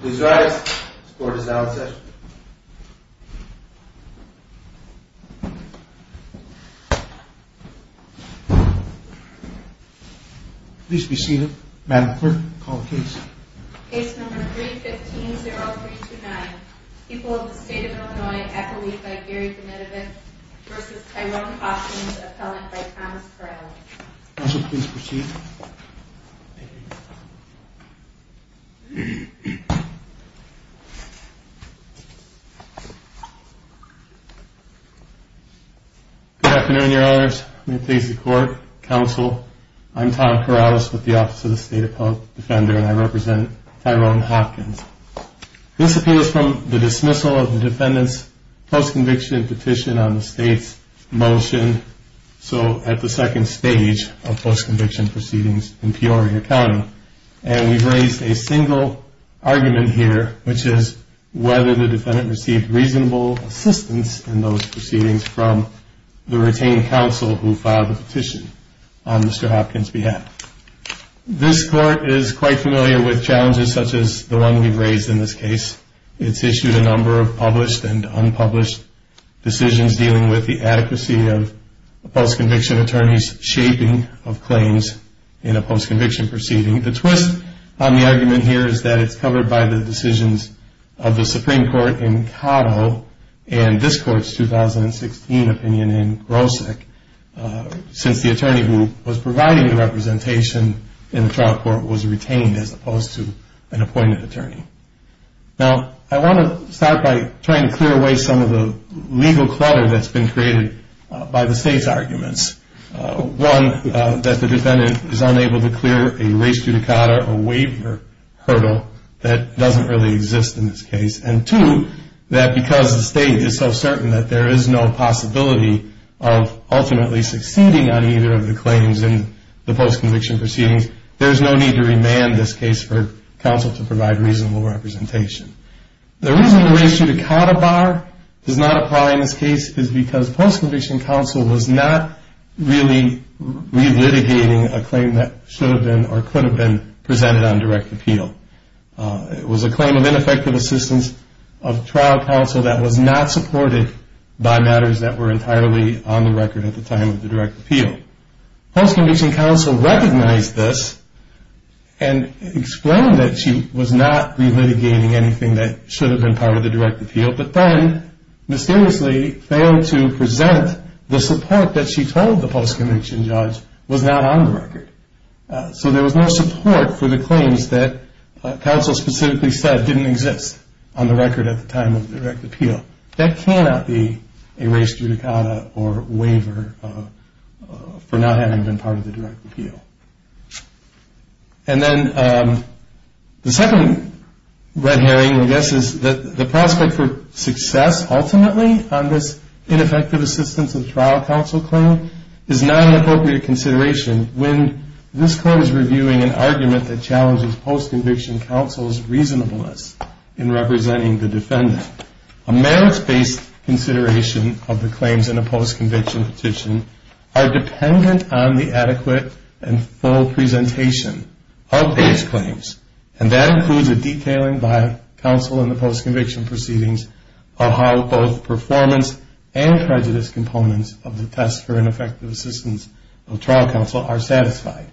Please rise. The court is now in session. Please be seated. Madam Clerk, call the case. Case number 315-0329. People of the State of Illinois at the lead by Gary Benitovich versus Tyrone Hopkins, appellant by Thomas Corrales. Counsel, please proceed. Good afternoon, Your Honors. I'm going to please the court. Counsel, I'm Tom Corrales with the Office of the State Appellate Defender and I represent Tyrone Hopkins. This appeals from the dismissal of the defendant's post-conviction petition on the State's motion, so at the second stage of post-conviction proceedings in Peoria County. And we've raised a single argument here, which is whether the defendant received reasonable assistance in those proceedings from the retaining counsel who filed the petition on Mr. Hopkins' behalf. This court is quite familiar with challenges such as the one we've raised in this case. It's issued a number of published and unpublished decisions dealing with the adequacy of a post-conviction attorney's shaping of claims in a post-conviction proceeding. The twist on the argument here is that it's covered by the decisions of the Supreme Court in Cato and this court's 2016 opinion in Grosick, since the attorney who was providing the representation in the trial court was retained as opposed to an appointed attorney. Now, I want to start by trying to clear away some of the legal clutter that's been created by the State's arguments. One, that the defendant is unable to clear a res judicata, a waiver hurdle that doesn't really exist in this case. And two, that because the State is so certain that there is no possibility of ultimately succeeding on either of the claims in the post-conviction proceedings, there's no need to remand this case for counsel to provide reasonable representation. The reason the res judicata bar does not apply in this case is because post-conviction counsel was not really re-litigating a claim that should have been or could have been presented on direct appeal. It was a claim of ineffective assistance of trial counsel that was not supported by matters that were entirely on the record at the time of the direct appeal. Post-conviction counsel recognized this and explained that she was not re-litigating anything that should have been part of the direct appeal, but then mysteriously failed to present the support that she told the post-conviction judge was not on the record. So there was no support for the claims that counsel specifically said didn't exist on the record at the time of the direct appeal. That cannot be a res judicata or waiver for not having been part of the direct appeal. And then the second red herring, I guess, is that the prospect for success ultimately on this ineffective assistance of trial counsel claim is not an appropriate consideration when this court is reviewing an argument that challenges post-conviction counsel's reasonableness in representing the defendant. A merits-based consideration of the claims in a post-conviction petition are dependent on the adequate and full presentation of these claims. And that includes a detailing by counsel in the post-conviction proceedings of how both performance and prejudice components of the test for ineffective assistance of trial counsel are satisfied.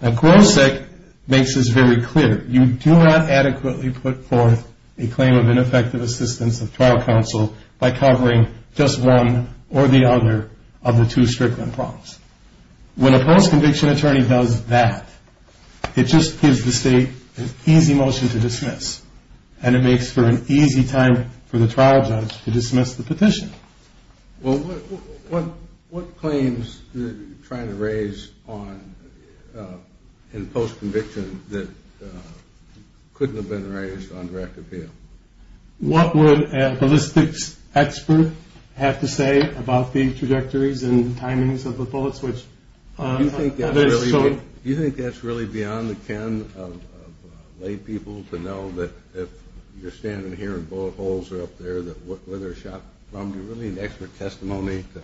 Now Grosick makes this very clear. You do not adequately put forth a claim of ineffective assistance of trial counsel by covering just one or the other of the two strickland prompts. When a post-conviction attorney does that, it just gives the state an easy motion to dismiss, and it makes for an easy time for the trial judge to dismiss the petition. Well, what claims are you trying to raise in post-conviction that couldn't have been raised on direct appeal? What would a ballistics expert have to say about the trajectories and timings of the bullets? Do you think that's really beyond the can of laypeople to know that if you're standing here and bullet holes are up there, that where they're shot from, do you really need expert testimony to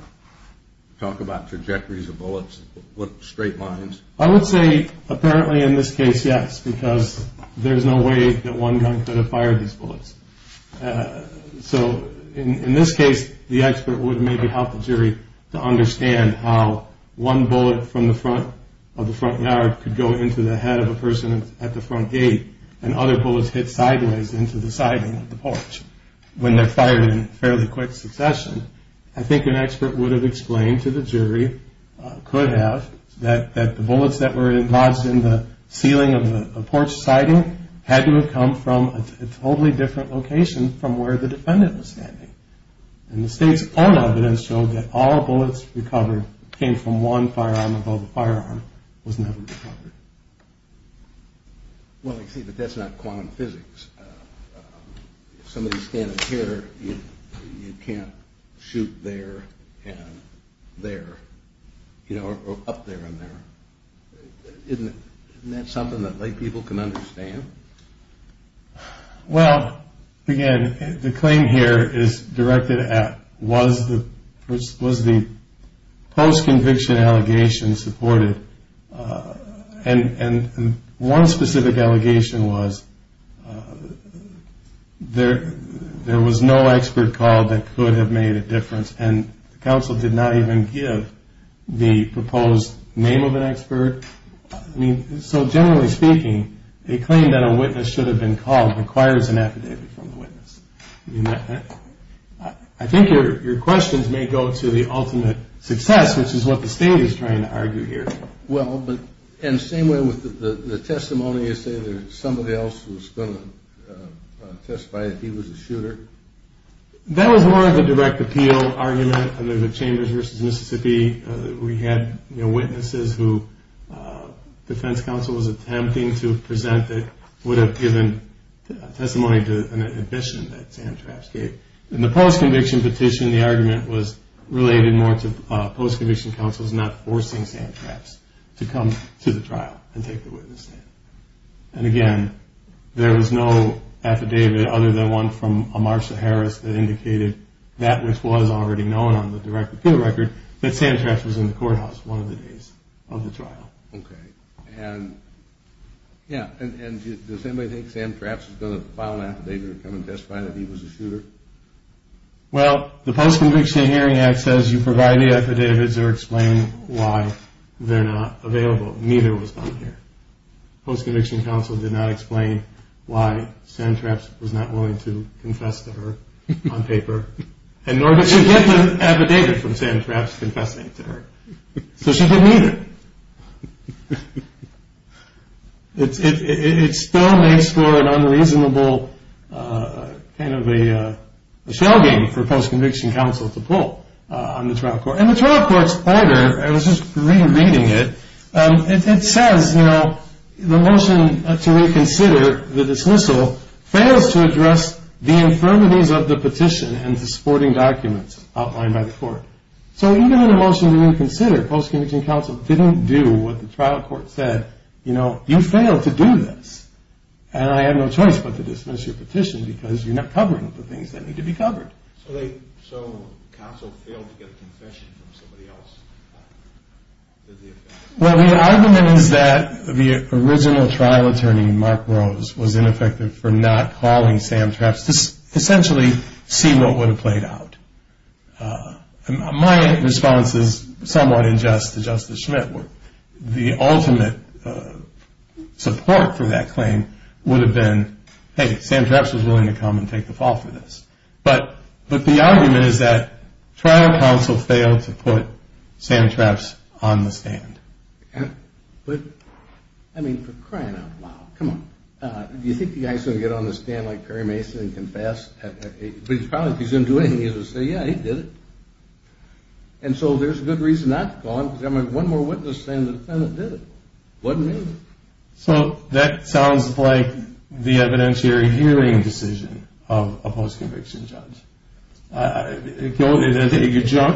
talk about trajectories of bullets with straight lines? I would say apparently in this case, yes, because there's no way that one gun could have fired these bullets. So in this case, the expert would maybe help the jury to understand how one bullet from the front of the front yard could go into the head of a person at the front gate, and other bullets hit sideways into the siding of the porch when they're fired in fairly quick succession. I think an expert would have explained to the jury, could have, that the bullets that were lodged in the ceiling of the porch siding had to have come from a totally different location from where the defendant was standing. And the state's own evidence showed that all bullets recovered came from one firearm, although the firearm was never recovered. Well, I see that that's not quantum physics. If somebody's standing here, you can't shoot there and there, or up there and there. Isn't that something that lay people can understand? Well, again, the claim here is directed at, was the post-conviction allegation supported? And one specific allegation was there was no expert called that could have made a difference, and the counsel did not even give the proposed name of an expert. I mean, so generally speaking, a claim that a witness should have been called requires an affidavit from the witness. I think your questions may go to the ultimate success, which is what the state is trying to argue here. Well, but in the same way with the testimony, you say that somebody else was going to testify if he was a shooter? That was more of a direct appeal argument under the Chambers v. Mississippi. We had witnesses who defense counsel was attempting to present that would have given testimony to an admission that Sam Trapps gave. In the post-conviction petition, the argument was related more to post-conviction counsels not forcing Sam Trapps to come to the trial and take the witness stand. And again, there was no affidavit other than one from Amartya Harris that indicated that which was already known on the direct appeal record, that Sam Trapps was in the courthouse one of the days of the trial. Okay. And yeah. And does anybody think Sam Trapps is going to file an affidavit or come and testify that he was a shooter? Well, the Post-Conviction Hearing Act says you provide the affidavits or explain why they're not available. Neither was done here. Post-conviction counsel did not explain why Sam Trapps was not willing to confess to her on paper. And nor did she get the affidavit from Sam Trapps confessing to her. So she didn't either. It still makes for an unreasonable kind of a shell game for post-conviction counsel to pull on the trial court. And the trial court's pointer, I was just rereading it, it says, you know, the motion to reconsider the dismissal fails to address the infirmities of the petition and the supporting documents outlined by the court. So even in the motion to reconsider, post-conviction counsel didn't do what the trial court said. You know, you failed to do this. And I have no choice but to dismiss your petition because you're not covering the things that need to be covered. So counsel failed to get a confession from somebody else? Well, the argument is that the original trial attorney, Mark Rose, was ineffective for not calling Sam Trapps to essentially see what would have played out. My response is somewhat unjust to Justice Schmidt. The ultimate support for that claim would have been, hey, Sam Trapps was willing to come and take the fall for this. But the argument is that trial counsel failed to put Sam Trapps on the stand. But, I mean, for crying out loud, come on, do you think the guy's going to get on the stand like Perry Mason and confess? But if he's going to do anything, he's going to say, yeah, he did it. And so there's a good reason not to call him because there might be one more witness saying the defendant did it. It wasn't me. So that sounds like the evidentiary hearing decision of a post-conviction judge. You're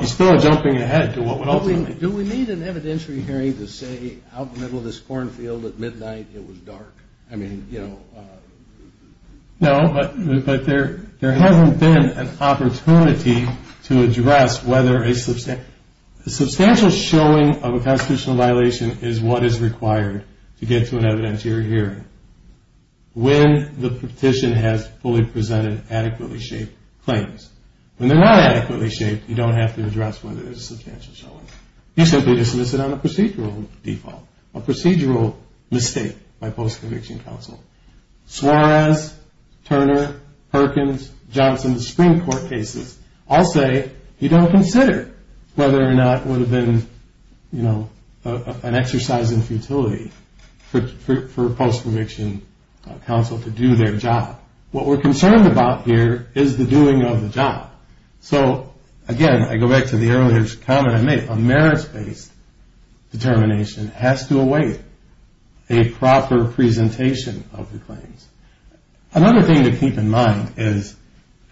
still jumping ahead to what would ultimately... Do we need an evidentiary hearing to say, out in the middle of this cornfield at midnight it was dark? I mean, you know... No, but there hasn't been an opportunity to address whether a substantial... A substantial showing of a constitutional violation is what is required to get to an evidentiary hearing when the petition has fully presented adequately shaped claims. When they're not adequately shaped, you don't have to address whether there's a substantial showing. You simply dismiss it on a procedural default, a procedural mistake by post-conviction counsel. Suarez, Turner, Perkins, Johnson, the Supreme Court cases all say you don't consider whether or not it would have been an exercise in futility for post-conviction counsel to do their job. What we're concerned about here is the doing of the job. So, again, I go back to the earlier comment I made. A merits-based determination has to await a proper presentation of the claims. Another thing to keep in mind is,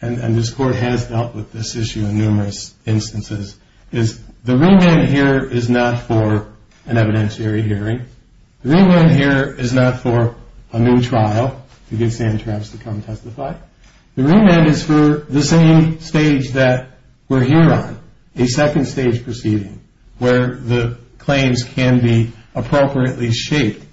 and this Court has dealt with this issue in numerous instances, is the remand here is not for an evidentiary hearing. The remand here is not for a new trial to get Sam Travis to come testify. The remand is for the same stage that we're here on, a second stage proceeding, where the claims can be appropriately shaped.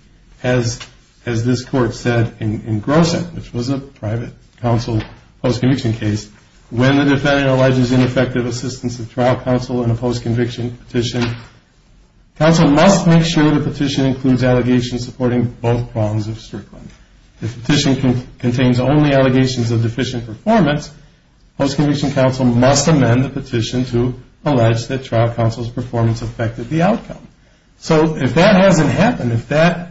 As this Court said in Grosset, which was a private counsel post-conviction case, when the defendant alleges ineffective assistance of trial counsel in a post-conviction petition, counsel must make sure the petition includes allegations supporting both prongs of Strickland. If the petition contains only allegations of deficient performance, post-conviction counsel must amend the petition to allege that trial counsel's performance affected the outcome. So if that hasn't happened, if that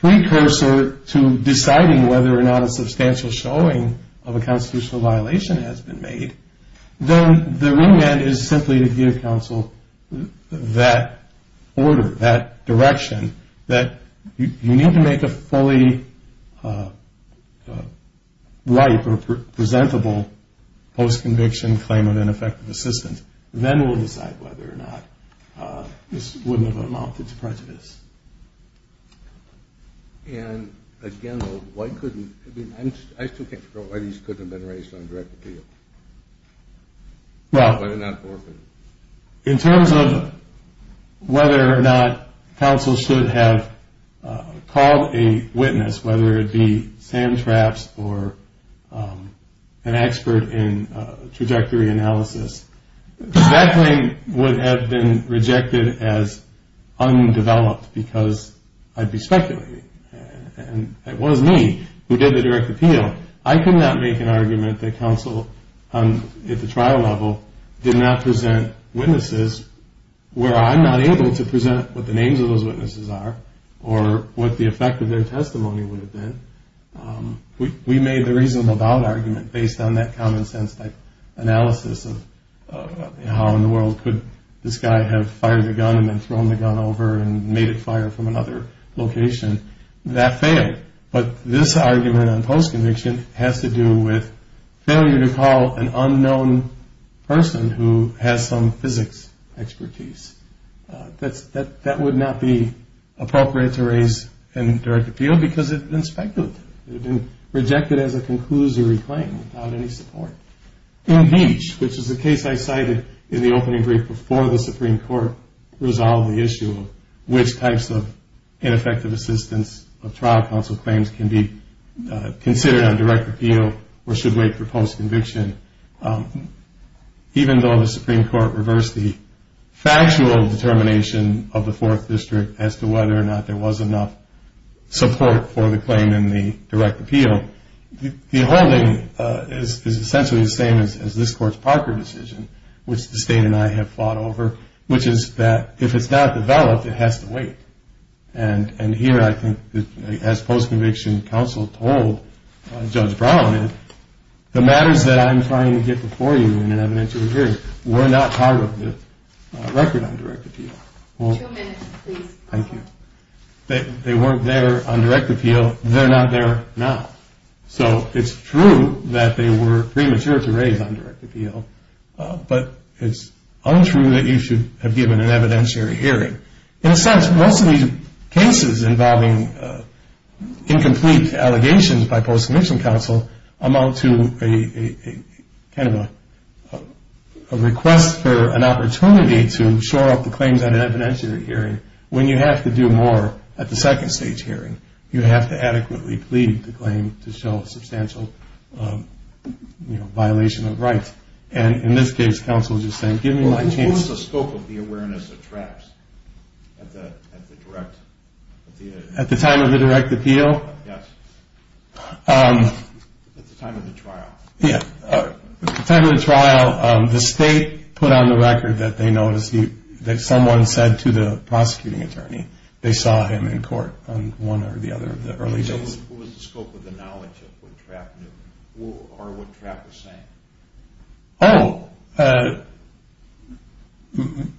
precursor to deciding whether or not a substantial showing of a constitutional violation has been made, then the remand is simply to give counsel that order, that direction, that you need to make a fully ripe or presentable post-conviction claim of ineffective assistance. Then we'll decide whether or not this wouldn't have amounted to prejudice. And again, why couldn't... I still can't figure out why these couldn't have been raised on direct appeal. Well, in terms of whether or not counsel should have called a witness, whether it be Sam Trapps or an expert in trajectory analysis, that claim would have been rejected as undeveloped because I'd be speculating. And it was me who did the direct appeal. I could not make an argument that counsel at the trial level did not present witnesses where I'm not able to present what the names of those witnesses are or what the effect of their testimony would have been. We made the reasonable doubt argument based on that common sense type analysis of how in the world could this guy have fired a gun and then thrown the gun over and made it fire from another location. That failed. But this argument on post-conviction has to do with failure to call an unknown person who has some physics expertise. That would not be appropriate to raise in direct appeal because it would have been speculative. It would have been rejected as a conclusory claim without any support. In each, which is the case I cited in the opening brief before the Supreme Court resolved the issue of which types of ineffective assistance of trial counsel claims can be considered on direct appeal or should wait for post-conviction. Even though the Supreme Court reversed the factual determination of the Fourth District as to whether or not there was enough support for the claim in the direct appeal, the holding is essentially the same as this Court's Parker decision, which the State and I have fought over, which is that if it's not developed, it has to wait. And here, I think, as post-conviction counsel told Judge Brown that the matters that I'm trying to get before you in an evidentiary hearing were not part of the record on direct appeal. Two minutes, please. Thank you. They weren't there on direct appeal. They're not there now. So it's true that they were premature to raise on direct appeal, but it's untrue that you should have given an evidentiary hearing. In a sense, most of these cases involving incomplete allegations by post-conviction counsel amount to kind of a request for an opportunity to shore up the claims at an evidentiary hearing when you have to do more at the second stage hearing. You have to adequately plead the claim to show a substantial violation of rights. And in this case, counsel is just saying, give me my chance. What was the scope of the awareness of traps at the direct appeal? At the time of the direct appeal? Yes. At the time of the trial. Yeah. At the time of the trial, the state put on the record that they noticed that someone said to the prosecuting attorney they saw him in court on one or the other of the early days. What was the scope of the knowledge of what trap knew or what trap was saying? Oh,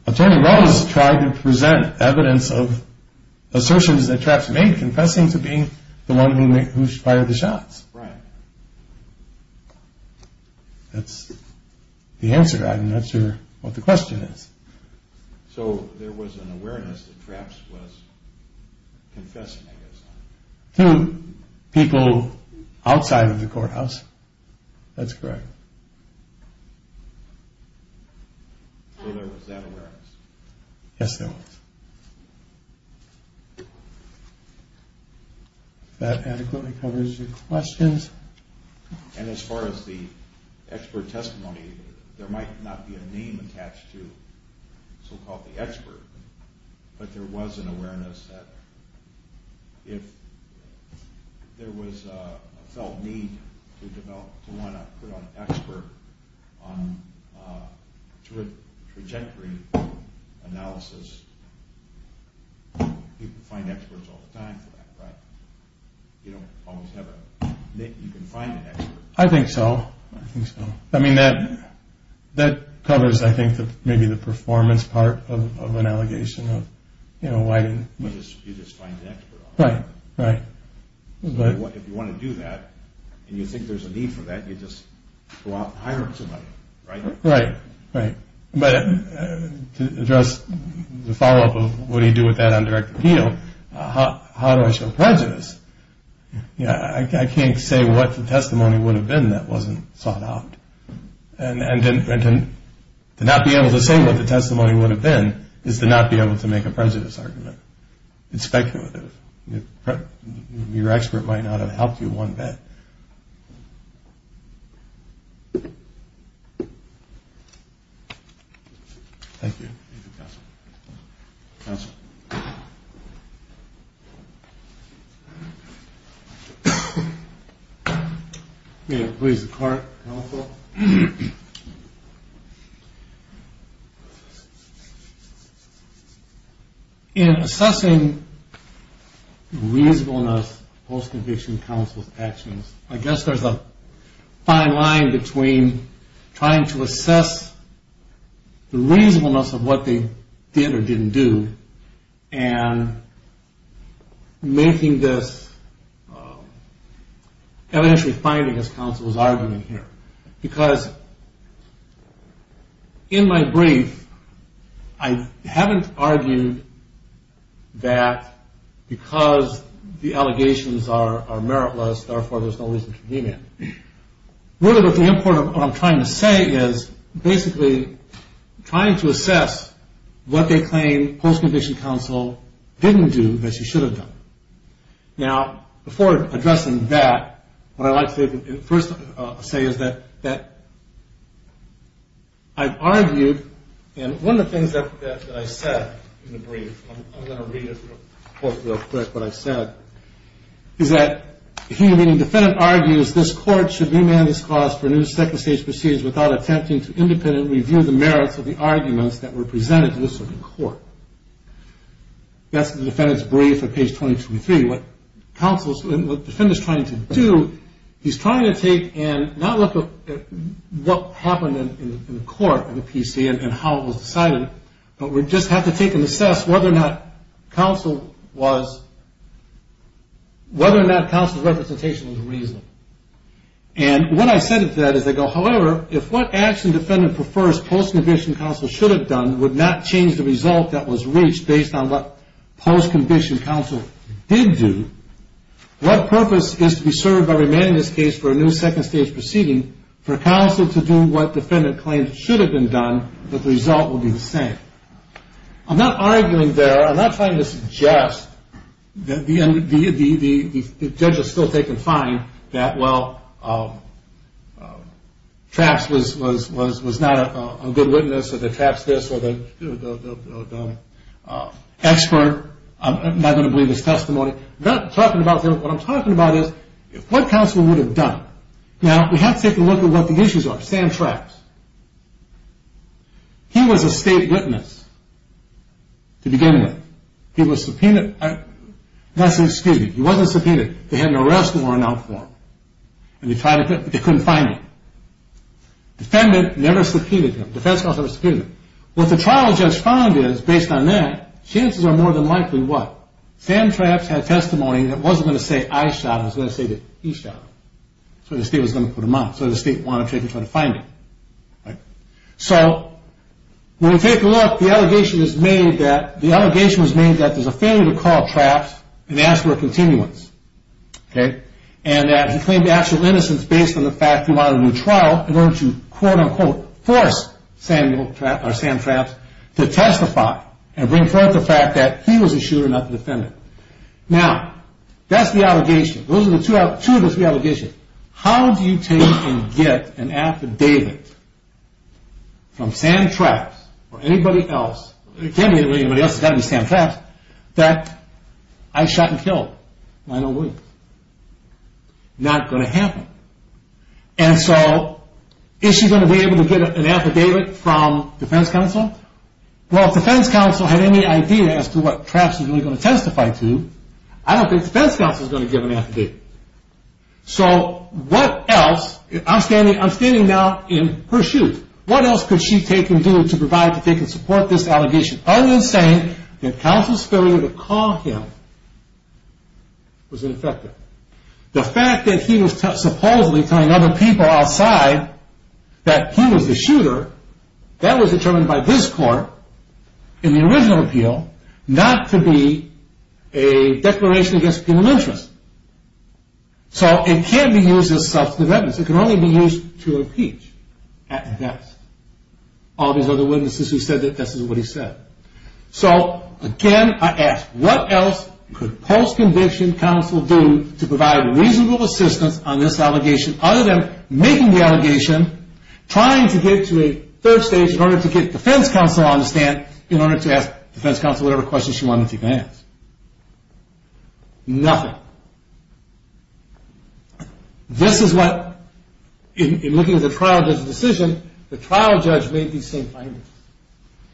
Attorney Rose tried to present evidence of assertions that traps made, confessing to being the one who fired the shots. Right. That's the answer. I'm not sure what the question is. So there was an awareness that traps was confessing, I guess. To people outside of the courthouse. That's correct. So there was that awareness. Yes, there was. That adequately covers your questions. And as far as the expert testimony, there might not be a name attached to so-called the expert, but there was an awareness that if there was a felt need to develop, to want to put on an expert to a trajectory analysis, people find experts all the time for that, right? You don't always have a name. You can find an expert. I think so. I think so. I mean, that covers, I think, maybe the performance part of an allegation. You just find an expert. Right, right. If you want to do that and you think there's a need for that, you just go out and hire somebody, right? Right, right. But to address the follow-up of what do you do with that undirected appeal, how do I show prejudice? I can't say what the testimony would have been that wasn't sought out. And to not be able to say what the testimony would have been is to not be able to make a prejudice argument. It's speculative. Your expert might not have helped you one bit. Thank you. Thank you, counsel. Counsel. May I please the court, counsel? So in assessing reasonableness post-conviction counsel's actions, I guess there's a fine line between trying to assess the reasonableness of what they did or didn't do and making this evidentially finding, as counsel was arguing here. Because in my brief, I haven't argued that because the allegations are meritless, therefore there's no reason to deem it. What I'm trying to say is basically trying to assess what they claim post-conviction counsel didn't do that she should have done. Now, before addressing that, what I'd like to first say is that I've argued, and one of the things that I said in the brief, I'm going to read it real quick, what I said, is that the human being defendant argues this court should remand this cause for a new second stage proceedings without attempting to independently review the merits of the arguments that were presented to this court. That's the defendant's brief at page 223. What the defendant's trying to do, he's trying to take and not look at what happened in the court of the PC and how it was decided, but we just have to take and assess whether or not counsel was, whether or not counsel's representation was reasonable. And what I said to that is I go, however, if what action defendant prefers post-conviction counsel should have done would not change the result that was reached based on what post-conviction counsel did do, what purpose is to be served by remanding this case for a new second stage proceeding for counsel to do what defendant claims should have been done but the result will be the same? I'm not arguing there. I'm not trying to suggest that the judge has still taken fine that, well, Trapps was not a good witness or that Trapps this or the expert. I'm not going to believe his testimony. I'm not talking about him. What I'm talking about is what counsel would have done. Now, we have to take a look at what the issues are. Sam Trapps, he was a state witness to begin with. He was subpoenaed, excuse me, he wasn't subpoenaed. They had an arrest warrant out for him. They couldn't find him. Defendant never subpoenaed him. Defense counsel never subpoenaed him. What the trial judge found is, based on that, chances are more than likely what? Sam Trapps had testimony that wasn't going to say I shot him. It was going to say that he shot him. So the state was going to put him out. So the state wanted to try to find him. So when we take a look, the allegation is made that there's a failure to call Trapps and ask for a continuance. Okay? And that he claimed actual innocence based on the fact he wanted a new trial in order to quote, unquote, force Sam Trapps to testify and bring forth the fact that he was a shooter, not the defendant. Now, that's the allegation. Those are the two of the three allegations. How do you take and get an affidavit from Sam Trapps or anybody else? It can't be anybody else. It's got to be Sam Trapps that I shot and killed, and I don't believe. Not going to happen. And so is she going to be able to get an affidavit from defense counsel? Well, if defense counsel had any idea as to what Trapps was really going to testify to, I don't think defense counsel is going to give an affidavit. So what else? I'm standing now in her shoes. What else could she take and do to provide that they can support this allegation other than saying that counsel's failure to call him was ineffective? The fact that he was supposedly telling other people outside that he was the shooter, that was determined by this court in the original appeal not to be a declaration against a penal interest. So it can't be used as substantive evidence. It can only be used to impeach at best. All these other witnesses who said that this is what he said. So, again, I ask, what else could post-conviction counsel do to provide reasonable assistance on this allegation other than making the allegation, trying to get to a third stage in order to get defense counsel on the stand in order to ask defense counsel whatever questions she wanted to ask? Nothing. Now, this is what, in looking at the trial judge's decision, the trial judge made these same findings.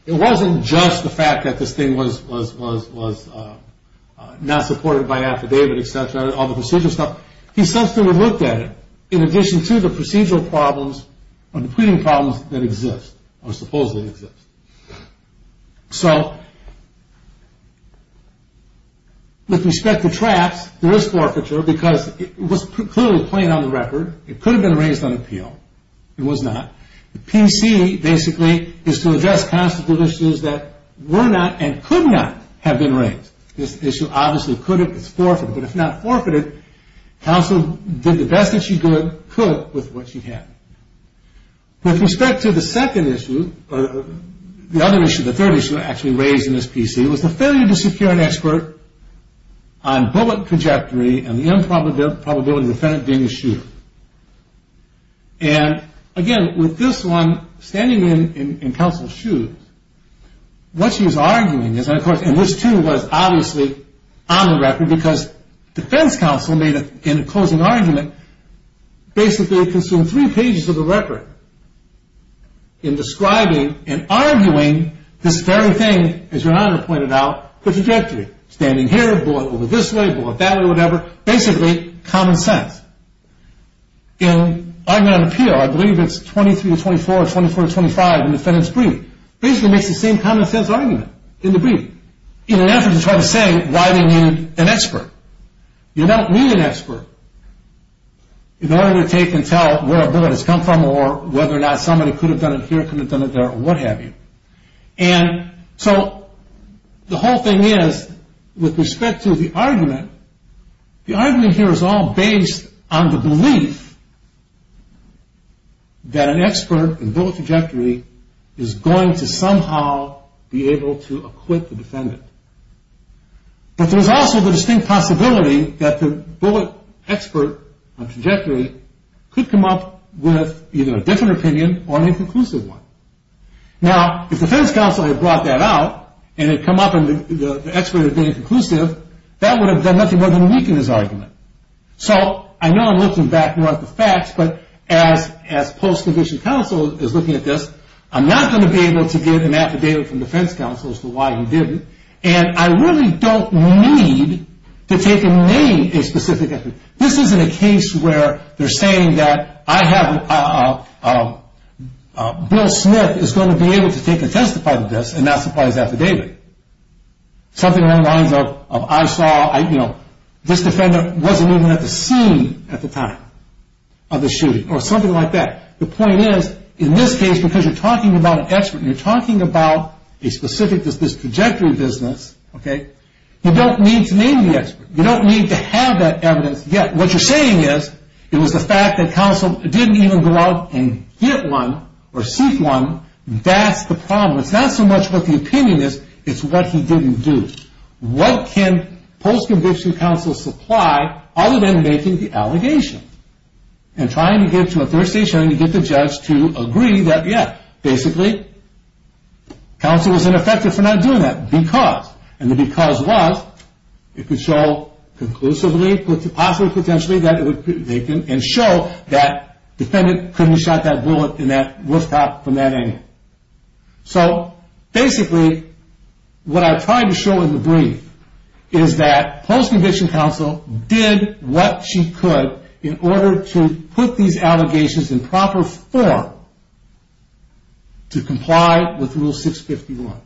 It wasn't just the fact that this thing was not supported by affidavit, et cetera, all the procedural stuff. He subsequently looked at it in addition to the procedural problems or the pleading problems that exist or supposedly exist. So, with respect to traps, there is forfeiture because it was clearly plain on the record. It could have been raised on appeal. It was not. The PC, basically, is to address constitutional issues that were not and could not have been raised. This issue obviously could have been forfeited, but if not forfeited, counsel did the best that she could with what she had. With respect to the second issue, or the other issue, the third issue actually raised in this PC, was the failure to secure an expert on bullet trajectory and the improbability of the defendant being a shooter. And, again, with this one, standing in counsel's shoes, what she was arguing is, of course, and this, too, was obviously on the record because defense counsel, in a closing argument, basically consumed three pages of the record in describing and arguing this very thing, as Your Honor pointed out, the trajectory. Standing here, bullet over this way, bullet that way, whatever. Basically, common sense. In argument on appeal, I believe it's 23 to 24, 24 to 25 in defendant's plea. Basically, it makes the same common sense argument in the plea in an effort to try to say why they need an expert. You don't need an expert. In order to take and tell where a bullet has come from or whether or not somebody could have done it here, could have done it there, or what have you. And so, the whole thing is, with respect to the argument, the argument here is all based on the belief that an expert in bullet trajectory is going to somehow be able to acquit the defendant. But there's also the distinct possibility that the bullet expert on trajectory could come up with either a different opinion or an inconclusive one. Now, if defense counsel had brought that out and had come up and the expert had been inconclusive, that would have done nothing more than weaken his argument. So, I know I'm looking back, not at the facts, but as post-conviction counsel is looking at this, I'm not going to be able to get an affidavit from defense counsel as to why he didn't. And I really don't need to take and name a specific expert. This isn't a case where they're saying that I have, Bill Smith is going to be able to take a testify to this and not supply his affidavit. Something along the lines of, I saw, you know, this defendant wasn't even at the scene at the time of the shooting or something like that. The point is, in this case, because you're talking about an expert and you're talking about a specific, this trajectory business, okay, you don't need to name the expert. You don't need to have that evidence yet. What you're saying is, it was the fact that counsel didn't even go out and get one or seek one. That's the problem. It's not so much what the opinion is, it's what he didn't do. What can post-conviction counsel supply other than making the allegation and trying to get to a third stage, trying to get the judge to agree that, yeah, basically, counsel was ineffective for not doing that because, and the because was, it could show conclusively, possibly, potentially, that it would, and show that defendant couldn't have shot that bullet in that rooftop from that angle. So, basically, what I tried to show in the brief is that post-conviction counsel did what she could in order to put these allegations in proper form to comply with Rule 651.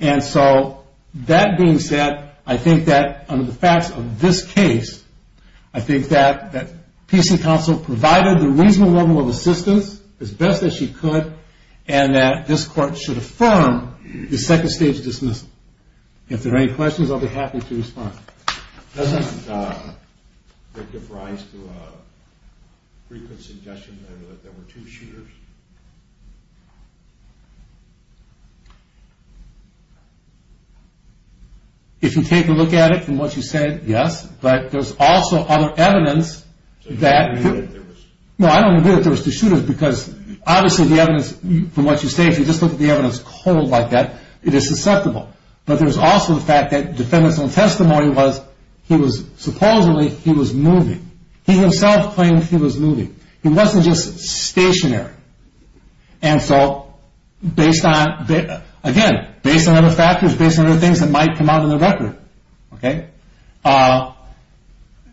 And so, that being said, I think that, under the facts of this case, I think that PC counsel provided the reasonable level of assistance, as best as she could, and that this court should affirm the second stage dismissal. If there are any questions, I'll be happy to respond. Doesn't that give rise to a frequent suggestion that there were two shooters? If you take a look at it from what you said, yes, but there's also other evidence that... So you don't agree that there was... No, I don't agree that there was two shooters because, obviously, the evidence, from what you say, if you just look at the evidence cold like that, it is susceptible. But there's also the fact that the defendant's own testimony was he was, supposedly, he was moving. He himself claimed he was moving. He wasn't just stationary. And so, based on, again, based on other factors, based on other things that might come out in the record, okay,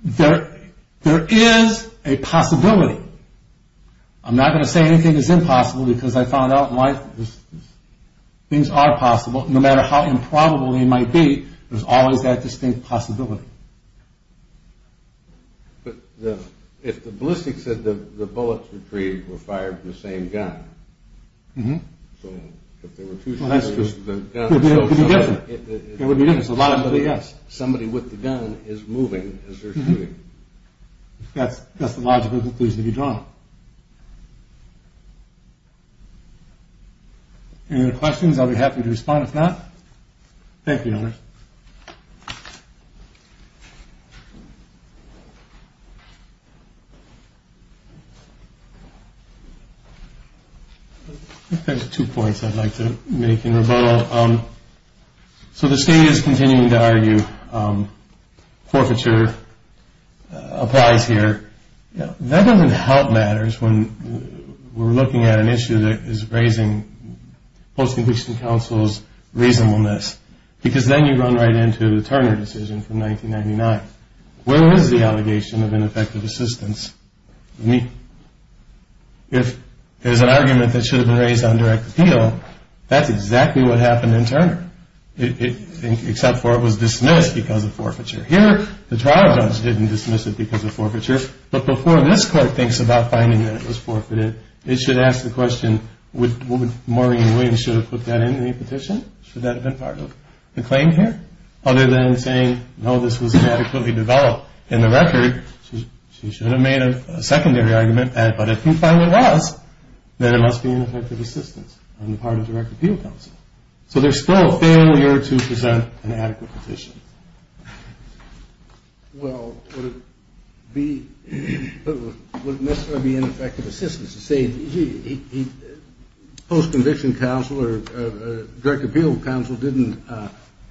there is a possibility. I'm not going to say anything is impossible because I found out why things are possible. No matter how improbable they might be, there's always that distinct possibility. But if the ballistics said the bullets retrieved were fired from the same gun... Mm-hmm. So if there were two shooters... Well, that's true. It would be different. It would be different. It's a logical conclusion. Somebody with the gun is moving as they're shooting. That's the logical conclusion to be drawn. Any other questions? I'll be happy to respond if not. Thank you, Elmer. I think there's two points I'd like to make in rebuttal. So the state is continuing to argue forfeiture applies here. That doesn't help matters when we're looking at an issue that is raising post-conviction counsel's reasonableness because then you run right into the Turner decision from 1999. Where was the allegation of ineffective assistance? I mean, if there's an argument that should have been raised on direct appeal, that's exactly what happened in Turner, except for it was dismissed because of forfeiture. Here, the trial judge didn't dismiss it because of forfeiture, but before this Court thinks about finding that it was forfeited, it should ask the question, would Maureen Williams should have put that in the petition? Should that have been part of the claim here? Other than saying, no, this was adequately developed. In the record, she should have made a secondary argument, but if you find it was, then it must be ineffective assistance on the part of direct appeal counsel. So there's still a failure to present an adequate petition. Well, would it necessarily be ineffective assistance to say post-conviction counsel or direct appeal counsel didn't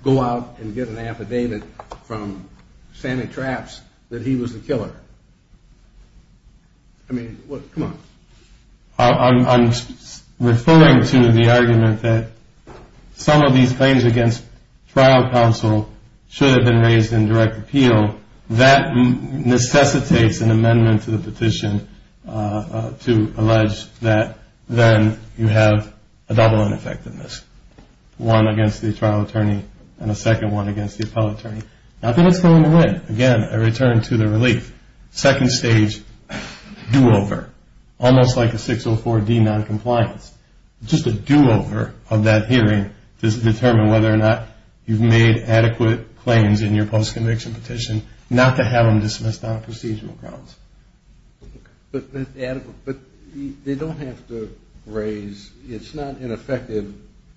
go out and get an affidavit from Santa Traps that he was the killer? I mean, come on. I'm referring to the argument that some of these claims against trial counsel should have been raised in direct appeal. So that necessitates an amendment to the petition to allege that then you have a double ineffectiveness, one against the trial attorney and a second one against the appellate attorney. Now, that's going away. Again, a return to the relief. Second stage do-over, almost like a 604D noncompliance, just a do-over of that hearing to determine whether or not you've made adequate claims in your post-conviction petition, not to have them dismissed on a procedural grounds. But they don't have to raise, it's not ineffective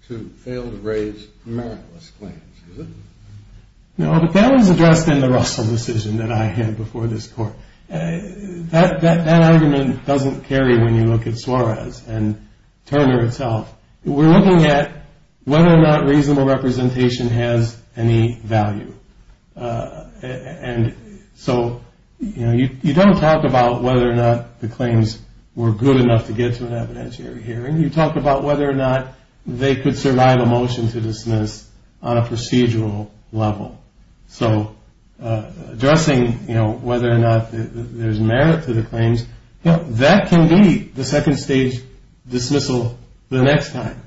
to fail to raise meritless claims, is it? No, but that was addressed in the Russell decision that I had before this court. That argument doesn't carry when you look at Suarez and Turner itself. We're looking at whether or not reasonable representation has any value. And so you don't talk about whether or not the claims were good enough to get to an evidentiary hearing. You talk about whether or not they could survive a motion to dismiss on a procedural level. So addressing whether or not there's merit to the claims, that can be the second stage dismissal the next time,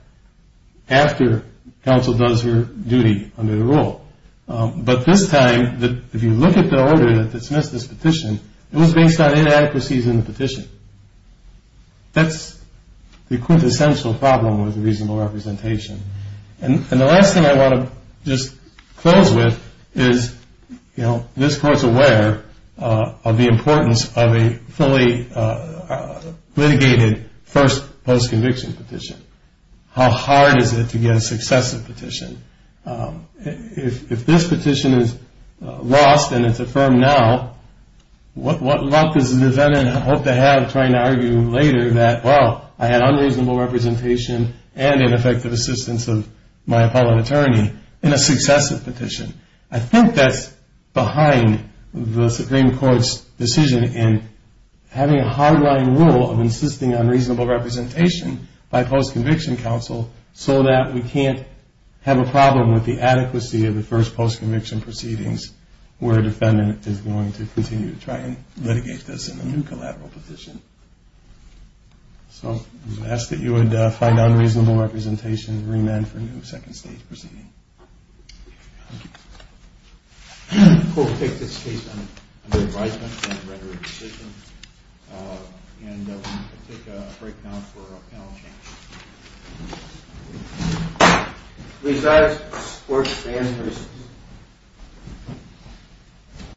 after counsel does her duty under the rule. But this time, if you look at the order that dismissed this petition, it was based on inadequacies in the petition. That's the quintessential problem with reasonable representation. And the last thing I want to just close with is, you know, this court's aware of the importance of a fully litigated first post-conviction petition. How hard is it to get a successive petition? If this petition is lost and it's affirmed now, what luck does the defendant hope to have trying to argue later that, well, I had unreasonable representation and ineffective assistance of my appellate attorney in a successive petition? I think that's behind the Supreme Court's decision in having a hardline rule of insisting on reasonable representation by post-conviction counsel so that we can't have a problem with the adequacy of the first post-conviction proceedings where a defendant is going to continue to try and litigate this in a new collateral petition. So I ask that you would find unreasonable representation and remand for a new second stage proceeding. Thank you. We'll take this case under advisement and a record of decision. And we'll take a break now for our panel of panelists. We've got sports fans here.